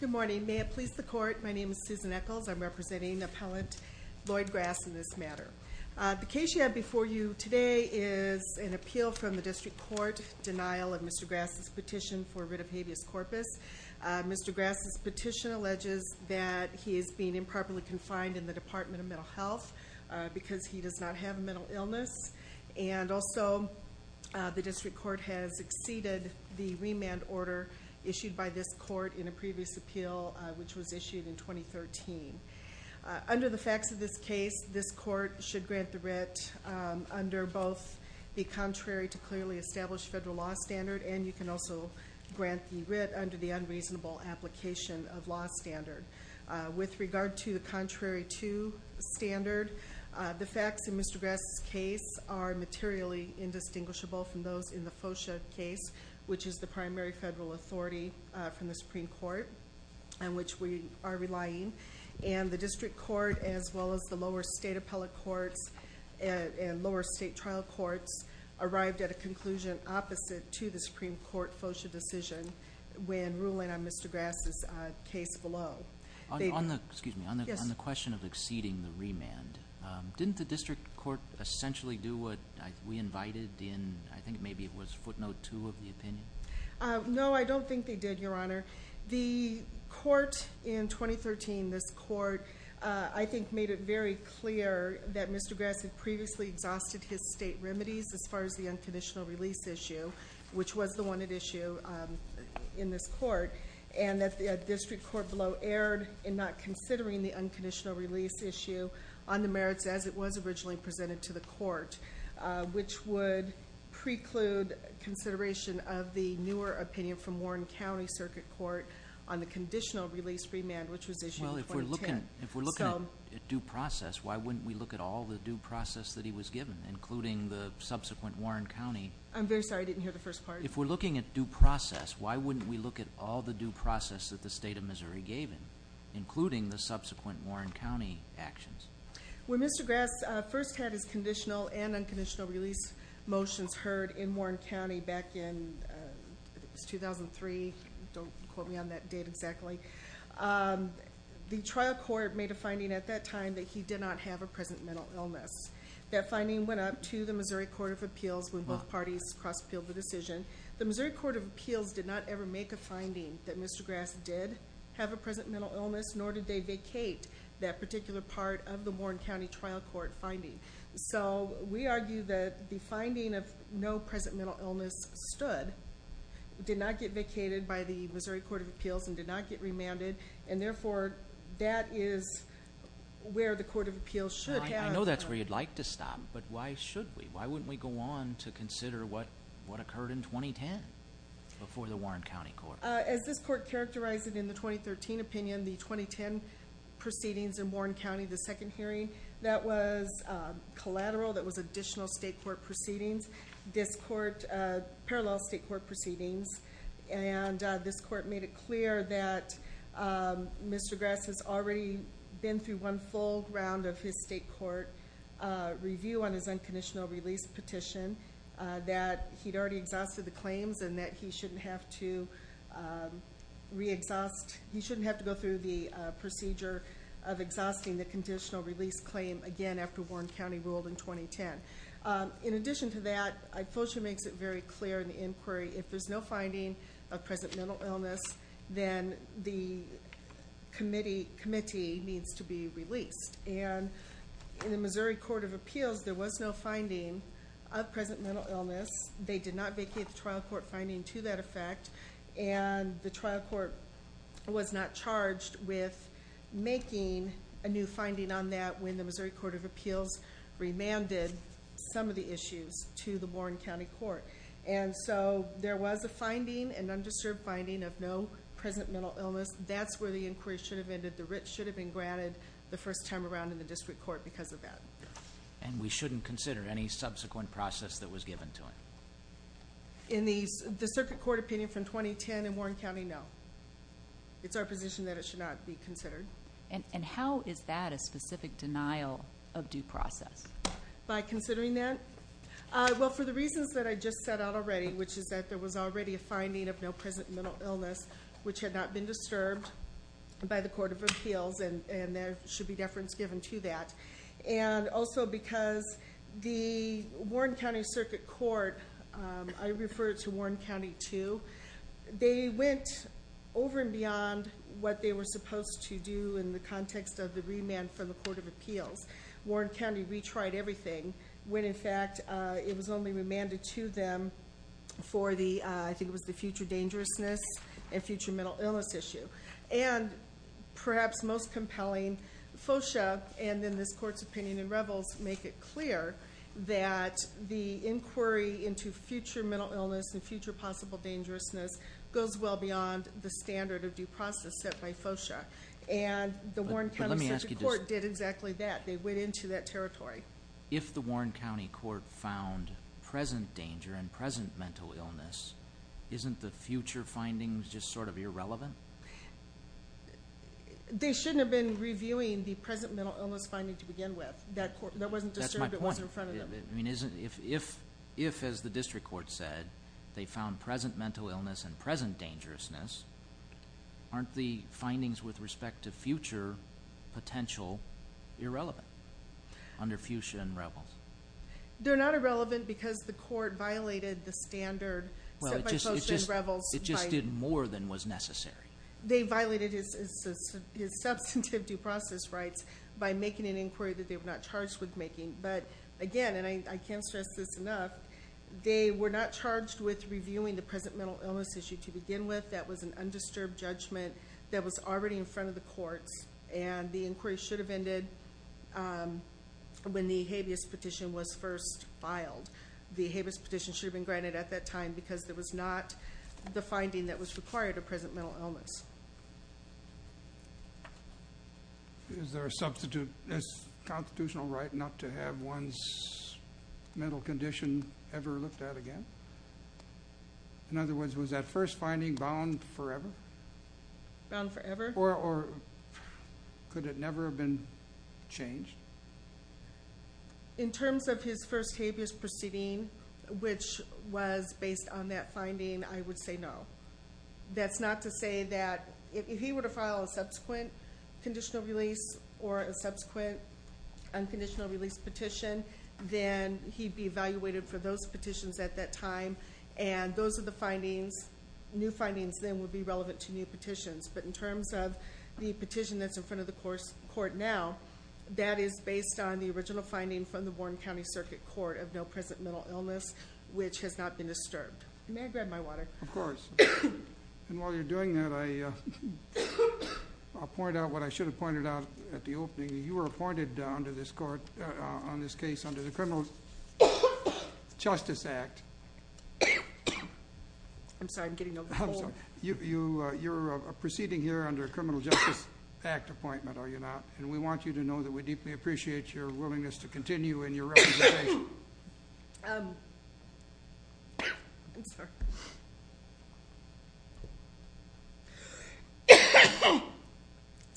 Good morning. May it please the court, my name is Susan Echols. I'm representing appellant Lloyd Grass in this matter. The case you have before you today is an appeal from the District Court, denial of Mr. Grass's petition for rid of habeas corpus. Mr. Grass's petition alleges that he is being improperly confined in the Department of Mental Health because he does not have a mental illness and also the District Court has exceeded the remand order issued by this court in a previous appeal which was issued in 2013. Under the facts of this case, this court should grant the writ under both the contrary to clearly established federal law standard and you can also grant the writ under the unreasonable application of law standard. With regard to the contrary to standard, the facts in Mr. Grass's case are indistinguishable from those in the FOSHA case which is the primary federal authority from the Supreme Court on which we are relying and the District Court as well as the lower state appellate courts and lower state trial courts arrived at a conclusion opposite to the Supreme Court FOSHA decision when ruling on Mr. Grass's case below. On the question of exceeding the remand, didn't the District Court essentially do what we invited in, I think maybe it was footnote two of the opinion? No, I don't think they did, Your Honor. The court in 2013, this court, I think made it very clear that Mr. Grass had previously exhausted his state remedies as far as the unconditional release issue which was the one at issue in this court and that the District Court below erred in not considering the unconditional release issue on the merits as it was originally presented to the court which would preclude consideration of the newer opinion from Warren County Circuit Court on the conditional release remand which was issued in 2010. Well, if we're looking at due process, why wouldn't we look at all the due process that he was given including the subsequent Warren County? I'm very sorry, I didn't hear the first part. If we're looking at due process, why wouldn't we look at all the due process that the state of Missouri gave him including the subsequent Warren County actions? When Mr. Grass first had his conditional and unconditional release motions heard in Warren County back in 2003, don't quote me on that date exactly, the trial court made a finding at that time that he did not have a present mental illness. That finding went up to the Missouri Court of Appeals when both parties cross appealed the decision. The Missouri Court of Appeals did not ever make a finding that Mr. Grass did have a present mental illness nor did they be part of the Warren County trial court finding. We argue that the finding of no present mental illness stood, did not get vacated by the Missouri Court of Appeals and did not get remanded and therefore, that is where the Court of Appeals should have... I know that's where you'd like to stop, but why should we? Why wouldn't we go on to consider what occurred in 2010 before the Warren County Court? As this court characterized it in the 2013 opinion, the 2010 proceedings in the second hearing that was collateral, that was additional state court proceedings, this court, parallel state court proceedings and this court made it clear that Mr. Grass has already been through one full round of his state court review on his unconditional release petition, that he'd already exhausted the claims and that he shouldn't have to re-exhaust, he shouldn't have to go through the procedure of exhausting the conditional release claim again after Warren County ruled in 2010. In addition to that, FOSHA makes it very clear in the inquiry, if there's no finding of present mental illness, then the committee needs to be released. In the Missouri Court of Appeals, there was no finding of present mental illness. They did not vacate the trial court finding to that effect and the trial court was not charged with making a new finding on that when the Missouri Court of Appeals remanded some of the issues to the Warren County Court. There was a finding, an undisturbed finding of no present mental illness. That's where the inquiry should have ended. The writ should have been granted the first time around in the district court because of that. We shouldn't consider any subsequent process that was given to him? In the circuit court opinion from 2010 in Warren County, no. It's our position that it should not be considered. How is that a specific denial of due process? By considering that? Well, for the reasons that I just set out already, which is that there was already a finding of no present mental illness, which had not been disturbed by the Court of Appeals and there should be deference given to that. And also because the Warren County Circuit Court, I refer to Warren County too, they went over and beyond what they were supposed to do in the context of the remand from the Court of Appeals. Warren County retried everything when in fact it was only remanded to them for the, I think it was the future dangerousness and future mental illness issue. And perhaps most compelling, FOCIA and then this Court's opinion in Revels make it clear that the inquiry into future mental illness and future possible dangerousness goes well beyond the standard of due process set by FOCIA. And the Warren County Circuit Court did exactly that. They went into that territory. If the Warren County Court found present danger and present mental illness, isn't the future findings just sort of irrelevant? They shouldn't have been reviewing the present mental illness finding to begin with. That wasn't disturbed, it wasn't in front of them. I mean, if as the district court said, they found present mental illness and present dangerousness, aren't the findings with respect to future potential irrelevant under FUCIA and Revels? They're not irrelevant because the court violated the standard set by FOCIA and Revels. It just did more than was necessary. They violated his substantive due process rights by making an inquiry that they were not charged with making. But again, and I can't stress this enough, they were not charged with reviewing the present mental illness issue to begin with. That was an undisturbed judgment that was already in front of the courts and the inquiry should have ended when the habeas petition was first filed. The habeas petition should have been granted at that time because there was not the finding that was required of present mental illness. Is there a constitutional right not to have one's mental condition ever looked at again? In other words, was that first finding bound forever? Bound forever? Or could it never have been changed? In terms of his first habeas proceeding, which was based on that finding, I would say no. That's not to say that if he were to file a subsequent conditional release or a subsequent unconditional release petition, then he'd be evaluated for those petitions at that time and those are the findings. New findings then would be relevant to new petitions. But in terms of the petition that's in front of the court now, that is based on the original finding from the Warren County Circuit Court of no present mental illness, which has not been disturbed. May I grab my water? Of course. And while you're doing that, I'll point out what I should have pointed out at the opening. You were appointed on this case under the Criminal Justice Act. I'm sorry, I'm getting over the phone. You're proceeding here under a Criminal Justice Act appointment, are you not? And we want you to know that we deeply appreciate your willingness to continue in your representation. I'm sorry.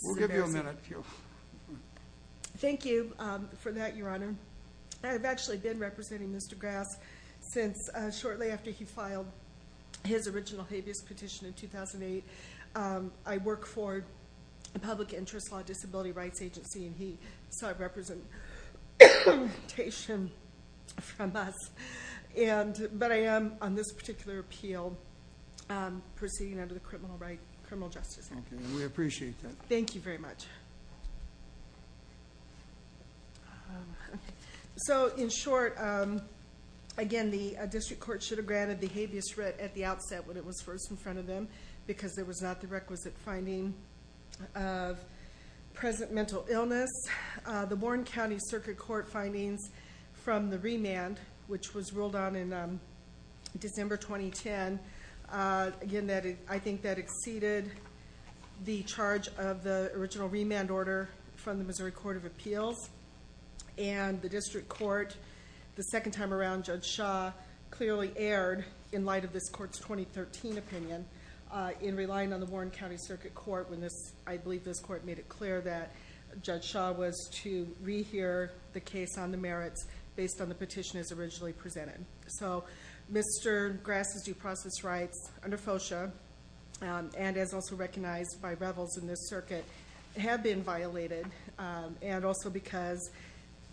We'll give you a minute, Q. Thank you for that, Your Honor. I've actually been representing Mr. Grass since shortly after he filed his original habeas petition in 2008. I work for a public interest law disability rights agency and he saw a representation from us. But I am on this particular appeal proceeding under the Criminal Justice Act. We appreciate that. Thank you very much. So in short, again, the district court should have granted the habeas writ at the outset when it was first in front of them because there was not the requisite finding of present mental illness. The remand, which was ruled on in December 2010, again, I think that exceeded the charge of the original remand order from the Missouri Court of Appeals. The district court, the second time around, Judge Shaw clearly erred in light of this court's 2013 opinion in relying on the Warren County Circuit Court when I believe this court made it clear that Judge Shaw was to re-hear the case on the merits based on the petition as originally presented. So Mr. Grass's due process rights under FOCIA and as also recognized by rebels in this circuit have been violated and also because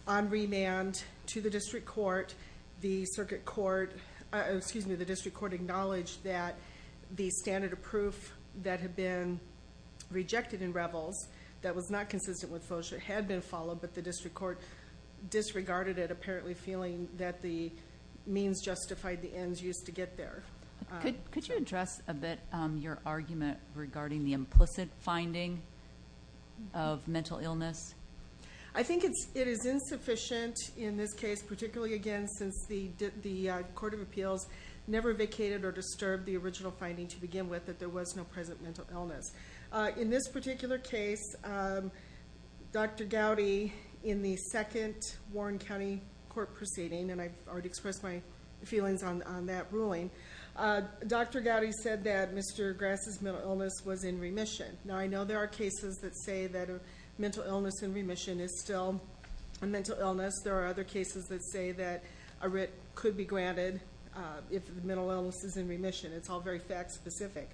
on remand to the district court, the district court acknowledged that the standard of proof that had been rejected in rebels that was not consistent with FOCIA had been followed but the district court disregarded it apparently feeling that the means justified the ends used to get there. Could you address a bit your argument regarding the implicit finding of mental illness? I think it is insufficient in this case, particularly again since the Court of Appeals never vacated or disturbed the original finding to begin with that there was no present mental illness. In this particular case, Dr. Gowdy in the second Warren County Court proceeding and I've already expressed my feelings on that ruling, Dr. Gowdy said that Mr. Grass's mental illness was in remission. Now I know there are cases that say that a mental illness in remission is still a mental illness. There are other cases that say that a writ could be granted if mental illness is in remission. It's all very fact specific.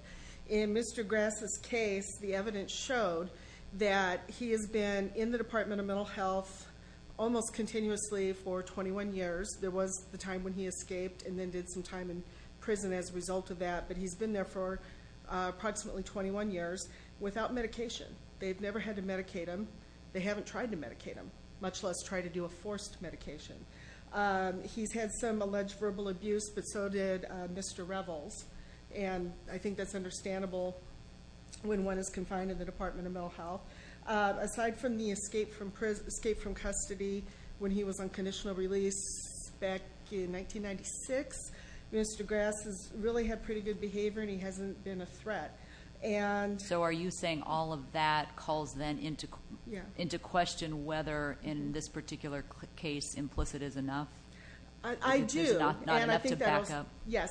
In Mr. Grass's case, the evidence showed that he has been in the Department of Mental Health almost continuously for 21 years. There was the time when he escaped and then did some time in prison as a result of that but he's been there for approximately 21 years without medication. They've never had to medicate him. They haven't tried to medicate him, much less try to do a forced medication. He's had some alleged verbal abuse but so did Mr. Revels and I think that's understandable when one is confined in the Department of Mental Health. Aside from the escape from custody when he was on conditional release back in 1996, Mr. Grass has really had pretty good behavior and he hasn't been a threat. So are you saying all of that calls then into question whether in this Yes,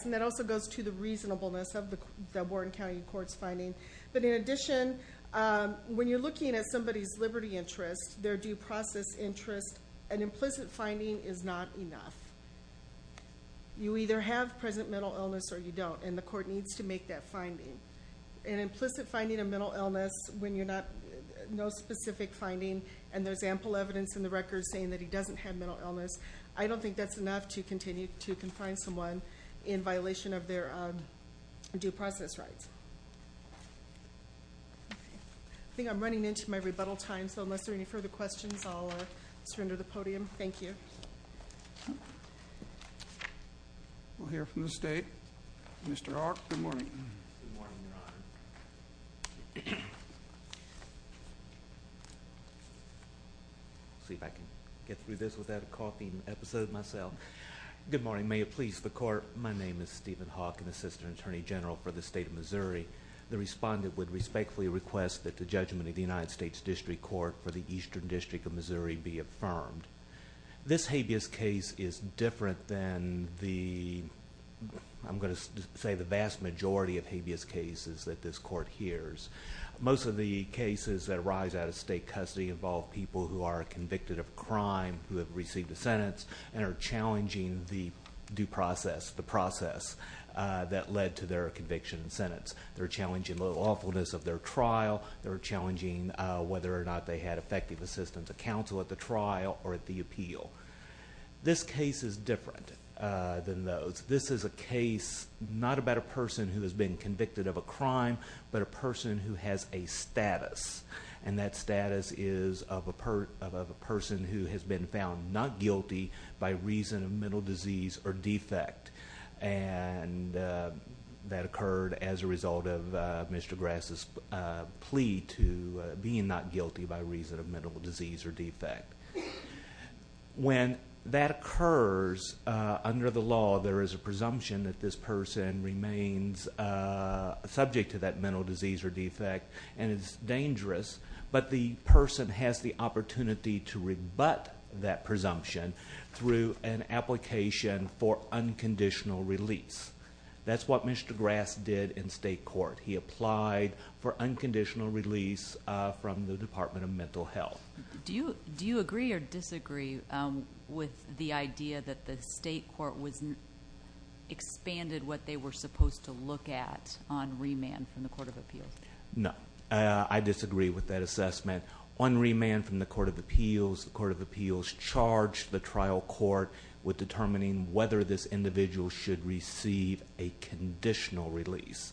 and that also goes to the reasonableness of the Wharton County Court's finding but in addition when you're looking at somebody's liberty interest, their due process interest, an implicit finding is not enough. You either have present mental illness or you don't and the court needs to make that finding. An implicit finding of mental illness when you're not no specific finding and there's ample evidence in the record saying that he doesn't have mental illness, I don't think that's enough to continue to confine someone in violation of their due process rights. I think I'm running into my rebuttal time so unless there any further questions I'll surrender the podium. Thank you. We'll hear from the state. Mr. Arc, good morning. See if I can get through this without a coughing episode myself. Good morning may it please the court. My name is Stephen Hawk, an assistant attorney general for the state of Missouri. The respondent would respectfully request that the judgment of the United States District Court for the Eastern District of Missouri be affirmed. This habeas case is different than the, I'm going to say the vast majority of habeas cases that this court hears. Most of the cases that arise out of state custody involve people who are convicted of crime who received a sentence and are challenging the due process, the process that led to their conviction and sentence. They're challenging the lawfulness of their trial, they're challenging whether or not they had effective assistance of counsel at the trial or at the appeal. This case is different than those. This is a case not about a person who has been convicted of a crime but a person who has a status and that status is of a person who has been found not guilty by reason of mental disease or defect and that occurred as a result of Mr. Grass's plea to being not guilty by reason of mental disease or defect. When that occurs under the law there is a presumption that this person remains subject to that mental disease or defect and it's dangerous but the person has the opportunity to rebut that presumption through an application for unconditional release. That's what Mr. Grass did in state court. He applied for unconditional release from the Department of Mental Health. Do you agree or disagree with the idea that the state court expanded what they were supposed to look at on remand from the Court of Appeals? No. I disagree with that assessment. On remand from the Court of Appeals, the Court of Appeals charged the trial court with determining whether this individual should receive a conditional release.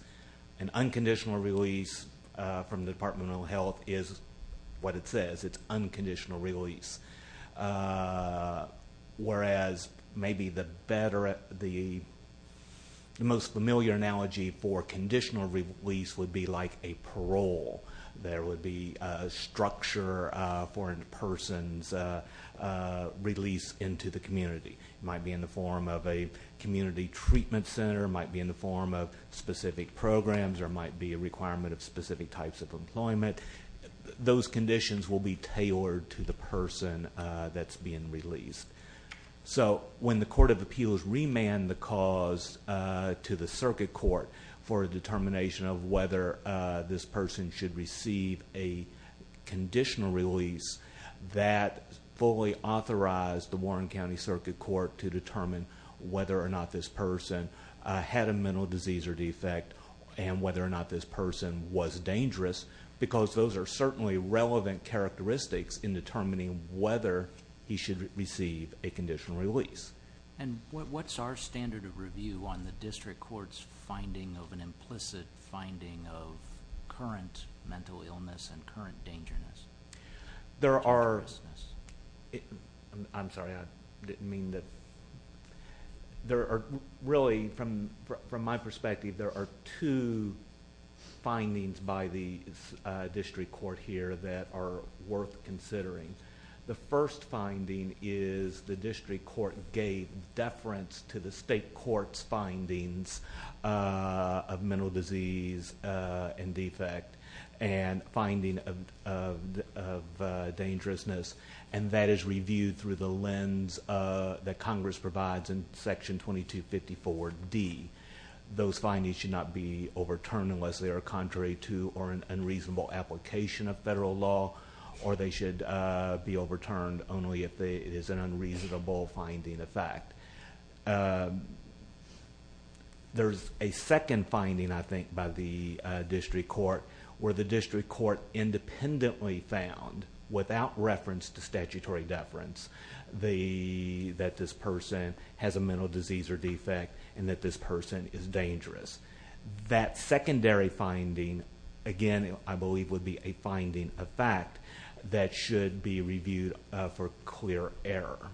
An unconditional release from the Department of Mental Health is what it says. It's unconditional release whereas maybe the most familiar analogy for conditional release would be like a parole. There would be a structure for a person's release into the community. It might be in the form of a community treatment center, might be in the form of specific programs, or might be a requirement of specific types of employment. Those conditions will be tailored to the person that's being released. When the Court of Appeals remanded the cause to the circuit court for a determination of whether this person should receive a conditional release, that fully authorized the Warren County Circuit Court to determine whether or not this person had a mental disease or defect and whether or not this person was dangerous because those are certainly relevant characteristics in receiving a conditional release. What's our standard of review on the district court's finding of an implicit finding of current mental illness and current dangerousness? There are... I'm sorry. I didn't mean that... Really, from my perspective, there are two findings by the district court here that are worth considering. The first finding is the district court gave deference to the state court's findings of mental disease and defect and finding of dangerousness. That is reviewed through the lens that Congress provides in Section 2254D. Those findings should not be overturned unless they are contrary to or an unreasonable application of federal law or they should be overturned only if it is an unreasonable finding of fact. There's a second finding, I think, by the district court where the district court independently found, without reference to statutory deference, that this person has a mental disease or defect and that this person is dangerous. That secondary finding, again, I believe would be a finding of fact that should be reviewed for clear error.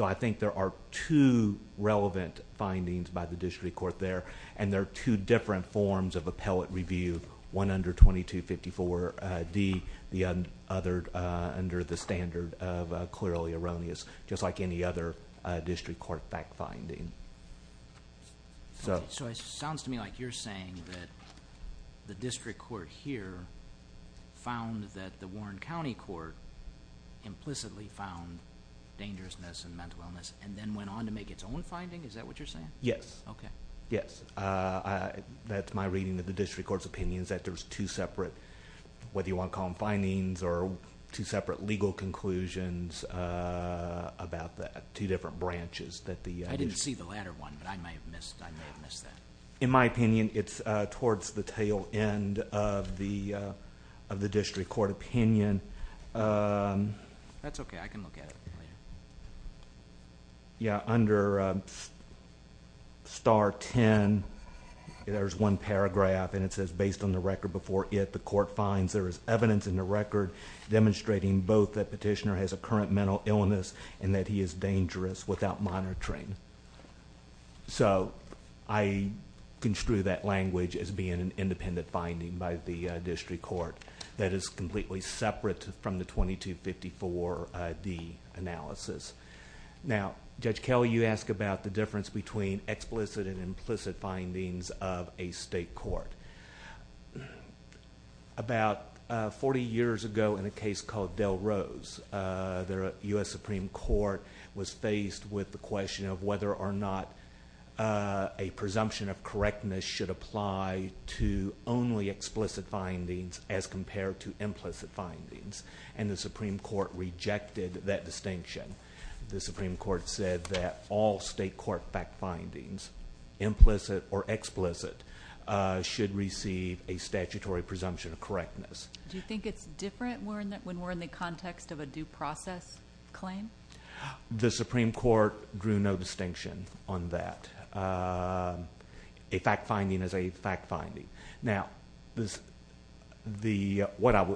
I think there are two relevant findings by the district court there, and there are two different forms of appellate review, one under 2254D, the other under the standard of clearly erroneous, just like any other district court fact finding. It sounds to me like you're saying that the district court here found that the Warren County Court implicitly found dangerousness and mental illness and then went on to make its own finding? Is that what you're saying? Yes. Okay. Yes. That's my reading of the district court's opinions that there's two separate... whether you want to call them findings or two separate legal conclusions about that, two different branches that the... I didn't see the latter one, but I may have missed that. In my opinion, it's towards the tail end of the district court opinion. That's okay. I can look at it later. Under star 10, there's one paragraph, and it says, based on the record before it, the court finds there is evidence in the record demonstrating both that petitioner has a current mental illness and that he is dangerous without monitoring. I construe that language as being an independent finding by the district court that is completely separate from the 2254-D analysis. Now, Judge Kelley, you asked about the difference between explicit and implicit findings of a state court. About forty years ago in a case called Delrose, the U.S. Supreme Court was faced with the question of whether or not a presumption of correctness should apply to only explicit findings as compared to implicit findings. The Supreme Court rejected that distinction. The Supreme Court said that all state court fact findings, implicit or explicit, should receive a statutory presumption of correctness. Do you think it's different when we're in the context of a due process claim? The Supreme Court drew no distinction on that. A fact finding is a fact finding. Now, what I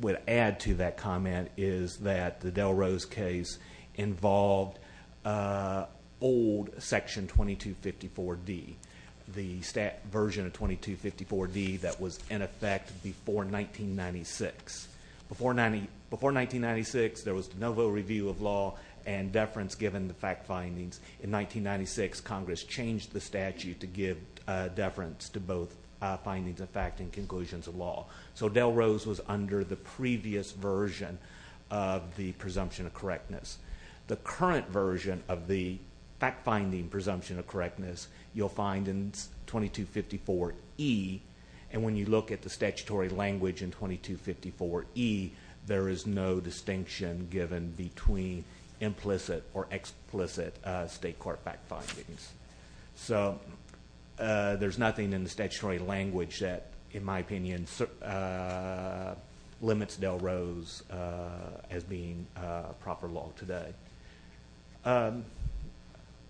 would add to that comment is that the Delrose case involved old section 2254-D, the version of 2254-D that was in effect before 1996. Before 1996, there was de novo review of law and deference given the fact findings. In 1996, Congress changed the statute to give deference to both findings of fact and conclusions of law. So Delrose was under the previous version of the presumption of correctness. The current version of the fact finding presumption of correctness you'll find in 2254-E. When you look at the statutory language in 2254-E, there is no distinction given between implicit or explicit state court fact findings. So there's nothing in the statutory language that, in my opinion, limits Delrose as being proper law today.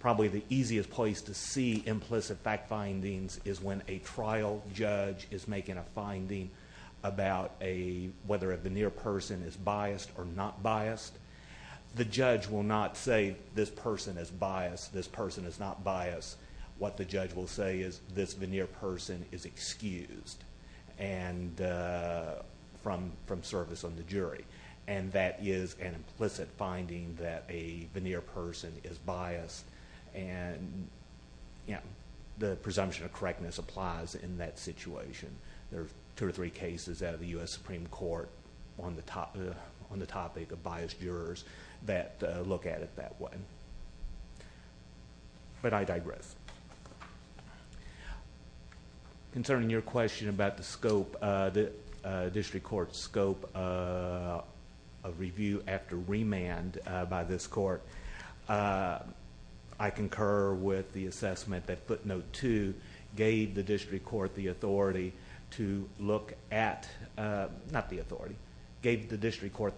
Probably the easiest place to see implicit fact findings is when a trial judge is making a finding about whether a veneer person is biased or not biased. The judge will not say, this person is biased, this person is not biased. What the judge will say is, this veneer person is excused from service on the jury. That is an implicit finding that a correctness applies in that situation. There are two or three cases out of the US Supreme Court on the topic of biased jurors that look at it that way. But I digress. Concerning your question about the scope, the district court's scope of review after remand by this court, I concur with the question, gave the district court the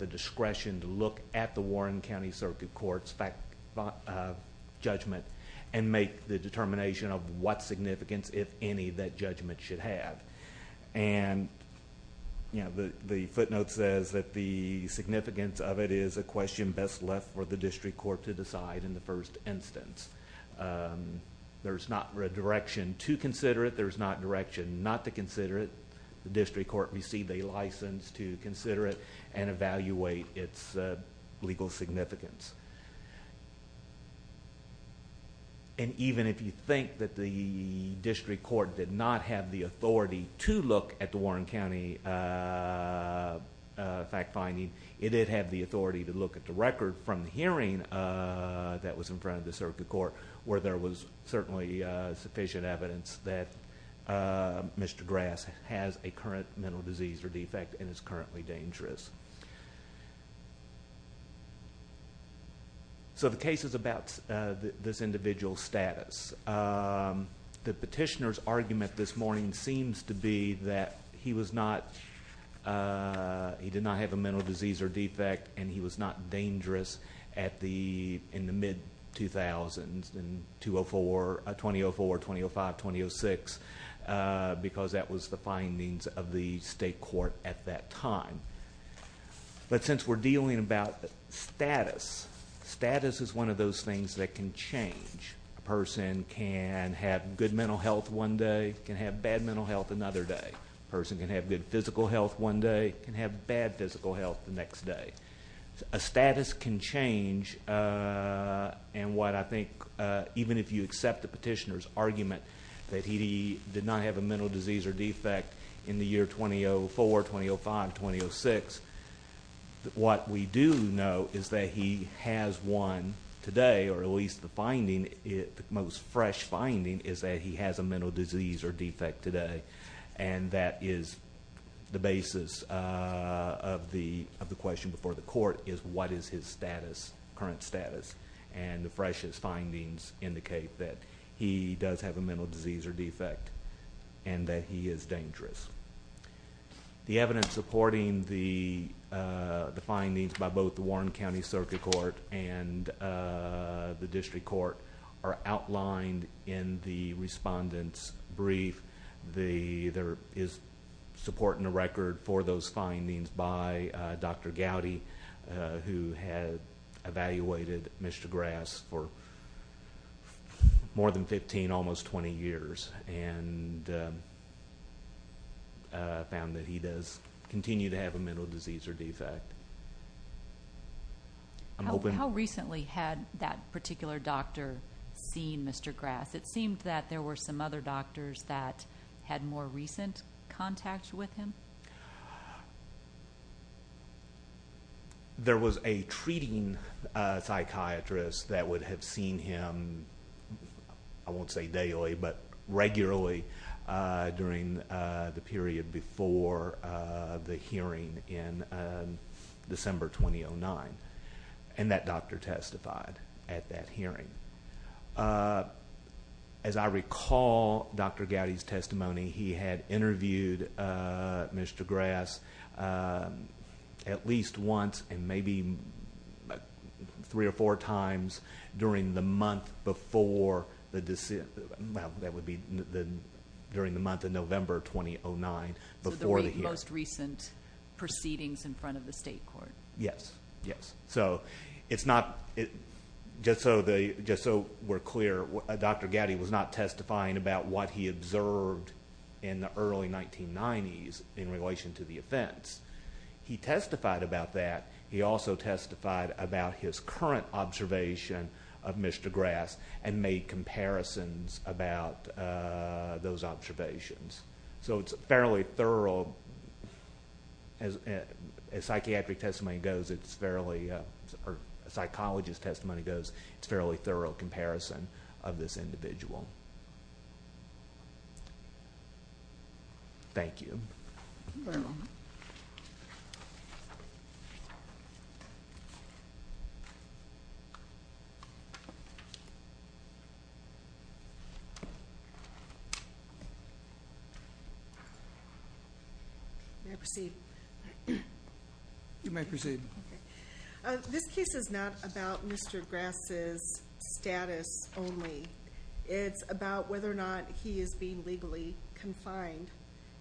discretion to look at the Warren County Circuit Court's judgment and make the determination of what significance, if any, that judgment should have. The footnote says that the significance of it is a question best left for the district court to decide in the first instance. There's not a direction to consider it. There's not direction not to consider it. The district court received a license to consider it and evaluate its legal significance. Even if you think that the district court did not have the authority to look at the Warren County fact-finding, it did have the authority to look at the record from the hearing that was in front of the circuit court where there was certainly sufficient evidence that Mr. Grass has a current mental disease or defect and is currently dangerous. So the case is about this individual's status. The petitioner's did not have a mental disease or defect and he was not dangerous in the mid-2000s, 2004, 2005, 2006, because that was the findings of the state court at that time. But since we're dealing about status, status is one of those things that can change. A person can have good mental health one day, can have good physical health one day, can have bad physical health the next day. A status can change and what I think even if you accept the petitioner's argument that he did not have a mental disease or defect in the year 2004, 2005, 2006, what we do know is that he has one today or at least the finding, the most fresh finding is that he has a mental disease or defect today and that is the basis of the of the question before the court is what is his status, current status, and the freshest findings indicate that he does have a mental disease or defect and that he is dangerous. The evidence supporting the findings by both the in the respondents brief, there is support in the record for those findings by Dr. Gowdy who had evaluated Mr. Grass for more than 15, almost 20 years and found that he does continue to have a mental disease or defect. How recently had that particular doctor seen Mr. Grass? It seemed that there were some other doctors that had more recent contact with him. There was a treating psychiatrist that would have seen him, I won't say daily, but regularly during the December 2009 and that doctor testified at that hearing. As I recall Dr. Gowdy's testimony, he had interviewed Mr. Grass at least once and maybe three or four times during the month before the December, well that would be the during the month of Yes, yes. So it's not, just so we're clear, Dr. Gowdy was not testifying about what he observed in the early 1990s in relation to the offense. He testified about that. He also testified about his current observation of Mr. Grass and made comparisons about those observations. So it's fairly thorough as a psychiatric testimony goes, it's fairly, or a psychologist testimony goes, it's a fairly thorough comparison of this individual. Thank you. Thank you very much. May I proceed? You may proceed. This case is not about Mr. Grass' status only. It's about whether or not he is being legally confined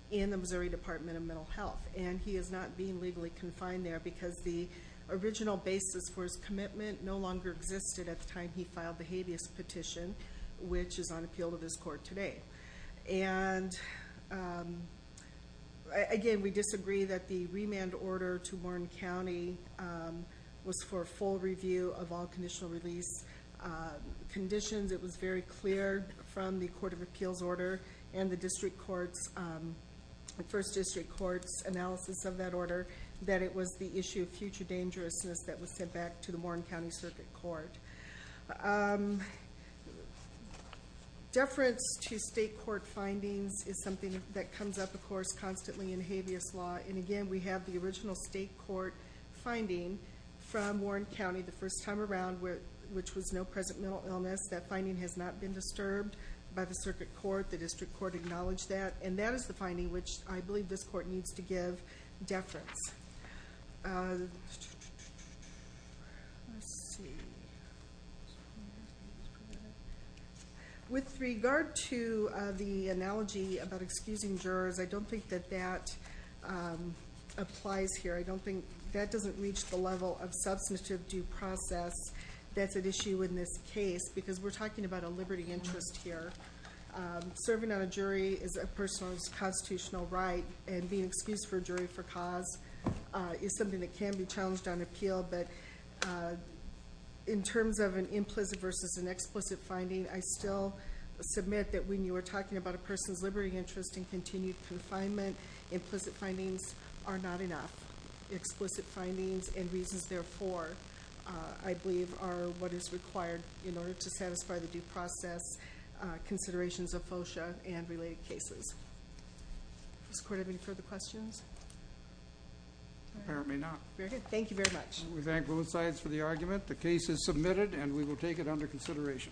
in the Missouri Department of Mental Health and he is not being legally confined there because the original basis for his commitment no longer existed at the time he filed the habeas petition, which is on appeal to this court today. And again, we disagree that the remand order to Warren County was for a full review of all conditional release conditions. It was very clear from the Court of Appeals order and the District Court's, the First District Court's analysis of that order, that it was the issue of future dangerousness that was sent back to the Warren County Circuit Court. Deference to state court findings is something that comes up, of course, constantly in habeas law. And again, we have the original state court finding from Warren County the first time around, which was no present mental illness. That finding has not been disturbed by the Circuit Court. The District Court acknowledged that. And that is the finding which I believe this court needs to give deference. With regard to the analogy about excusing jurors, I don't think that that applies here. I don't think that doesn't reach the level of substantive due process that's at issue in this case, because we're talking about a liberty interest here. Serving on a jury is a person's constitutional right, and being excused for a jury for cause is something that can be challenged on appeal. But in terms of an implicit versus an explicit finding, I still submit that when you are talking about a person's liberty interest in continued confinement, implicit findings are not enough. Explicit findings and reasons therefore, I believe, are what is required in order to satisfy the due process considerations of FOCIA and related cases. Mr. Court, any further questions? Apparently not. Very good. Thank you very much. We thank both sides for the argument. The case is submitted and we will take it under consideration.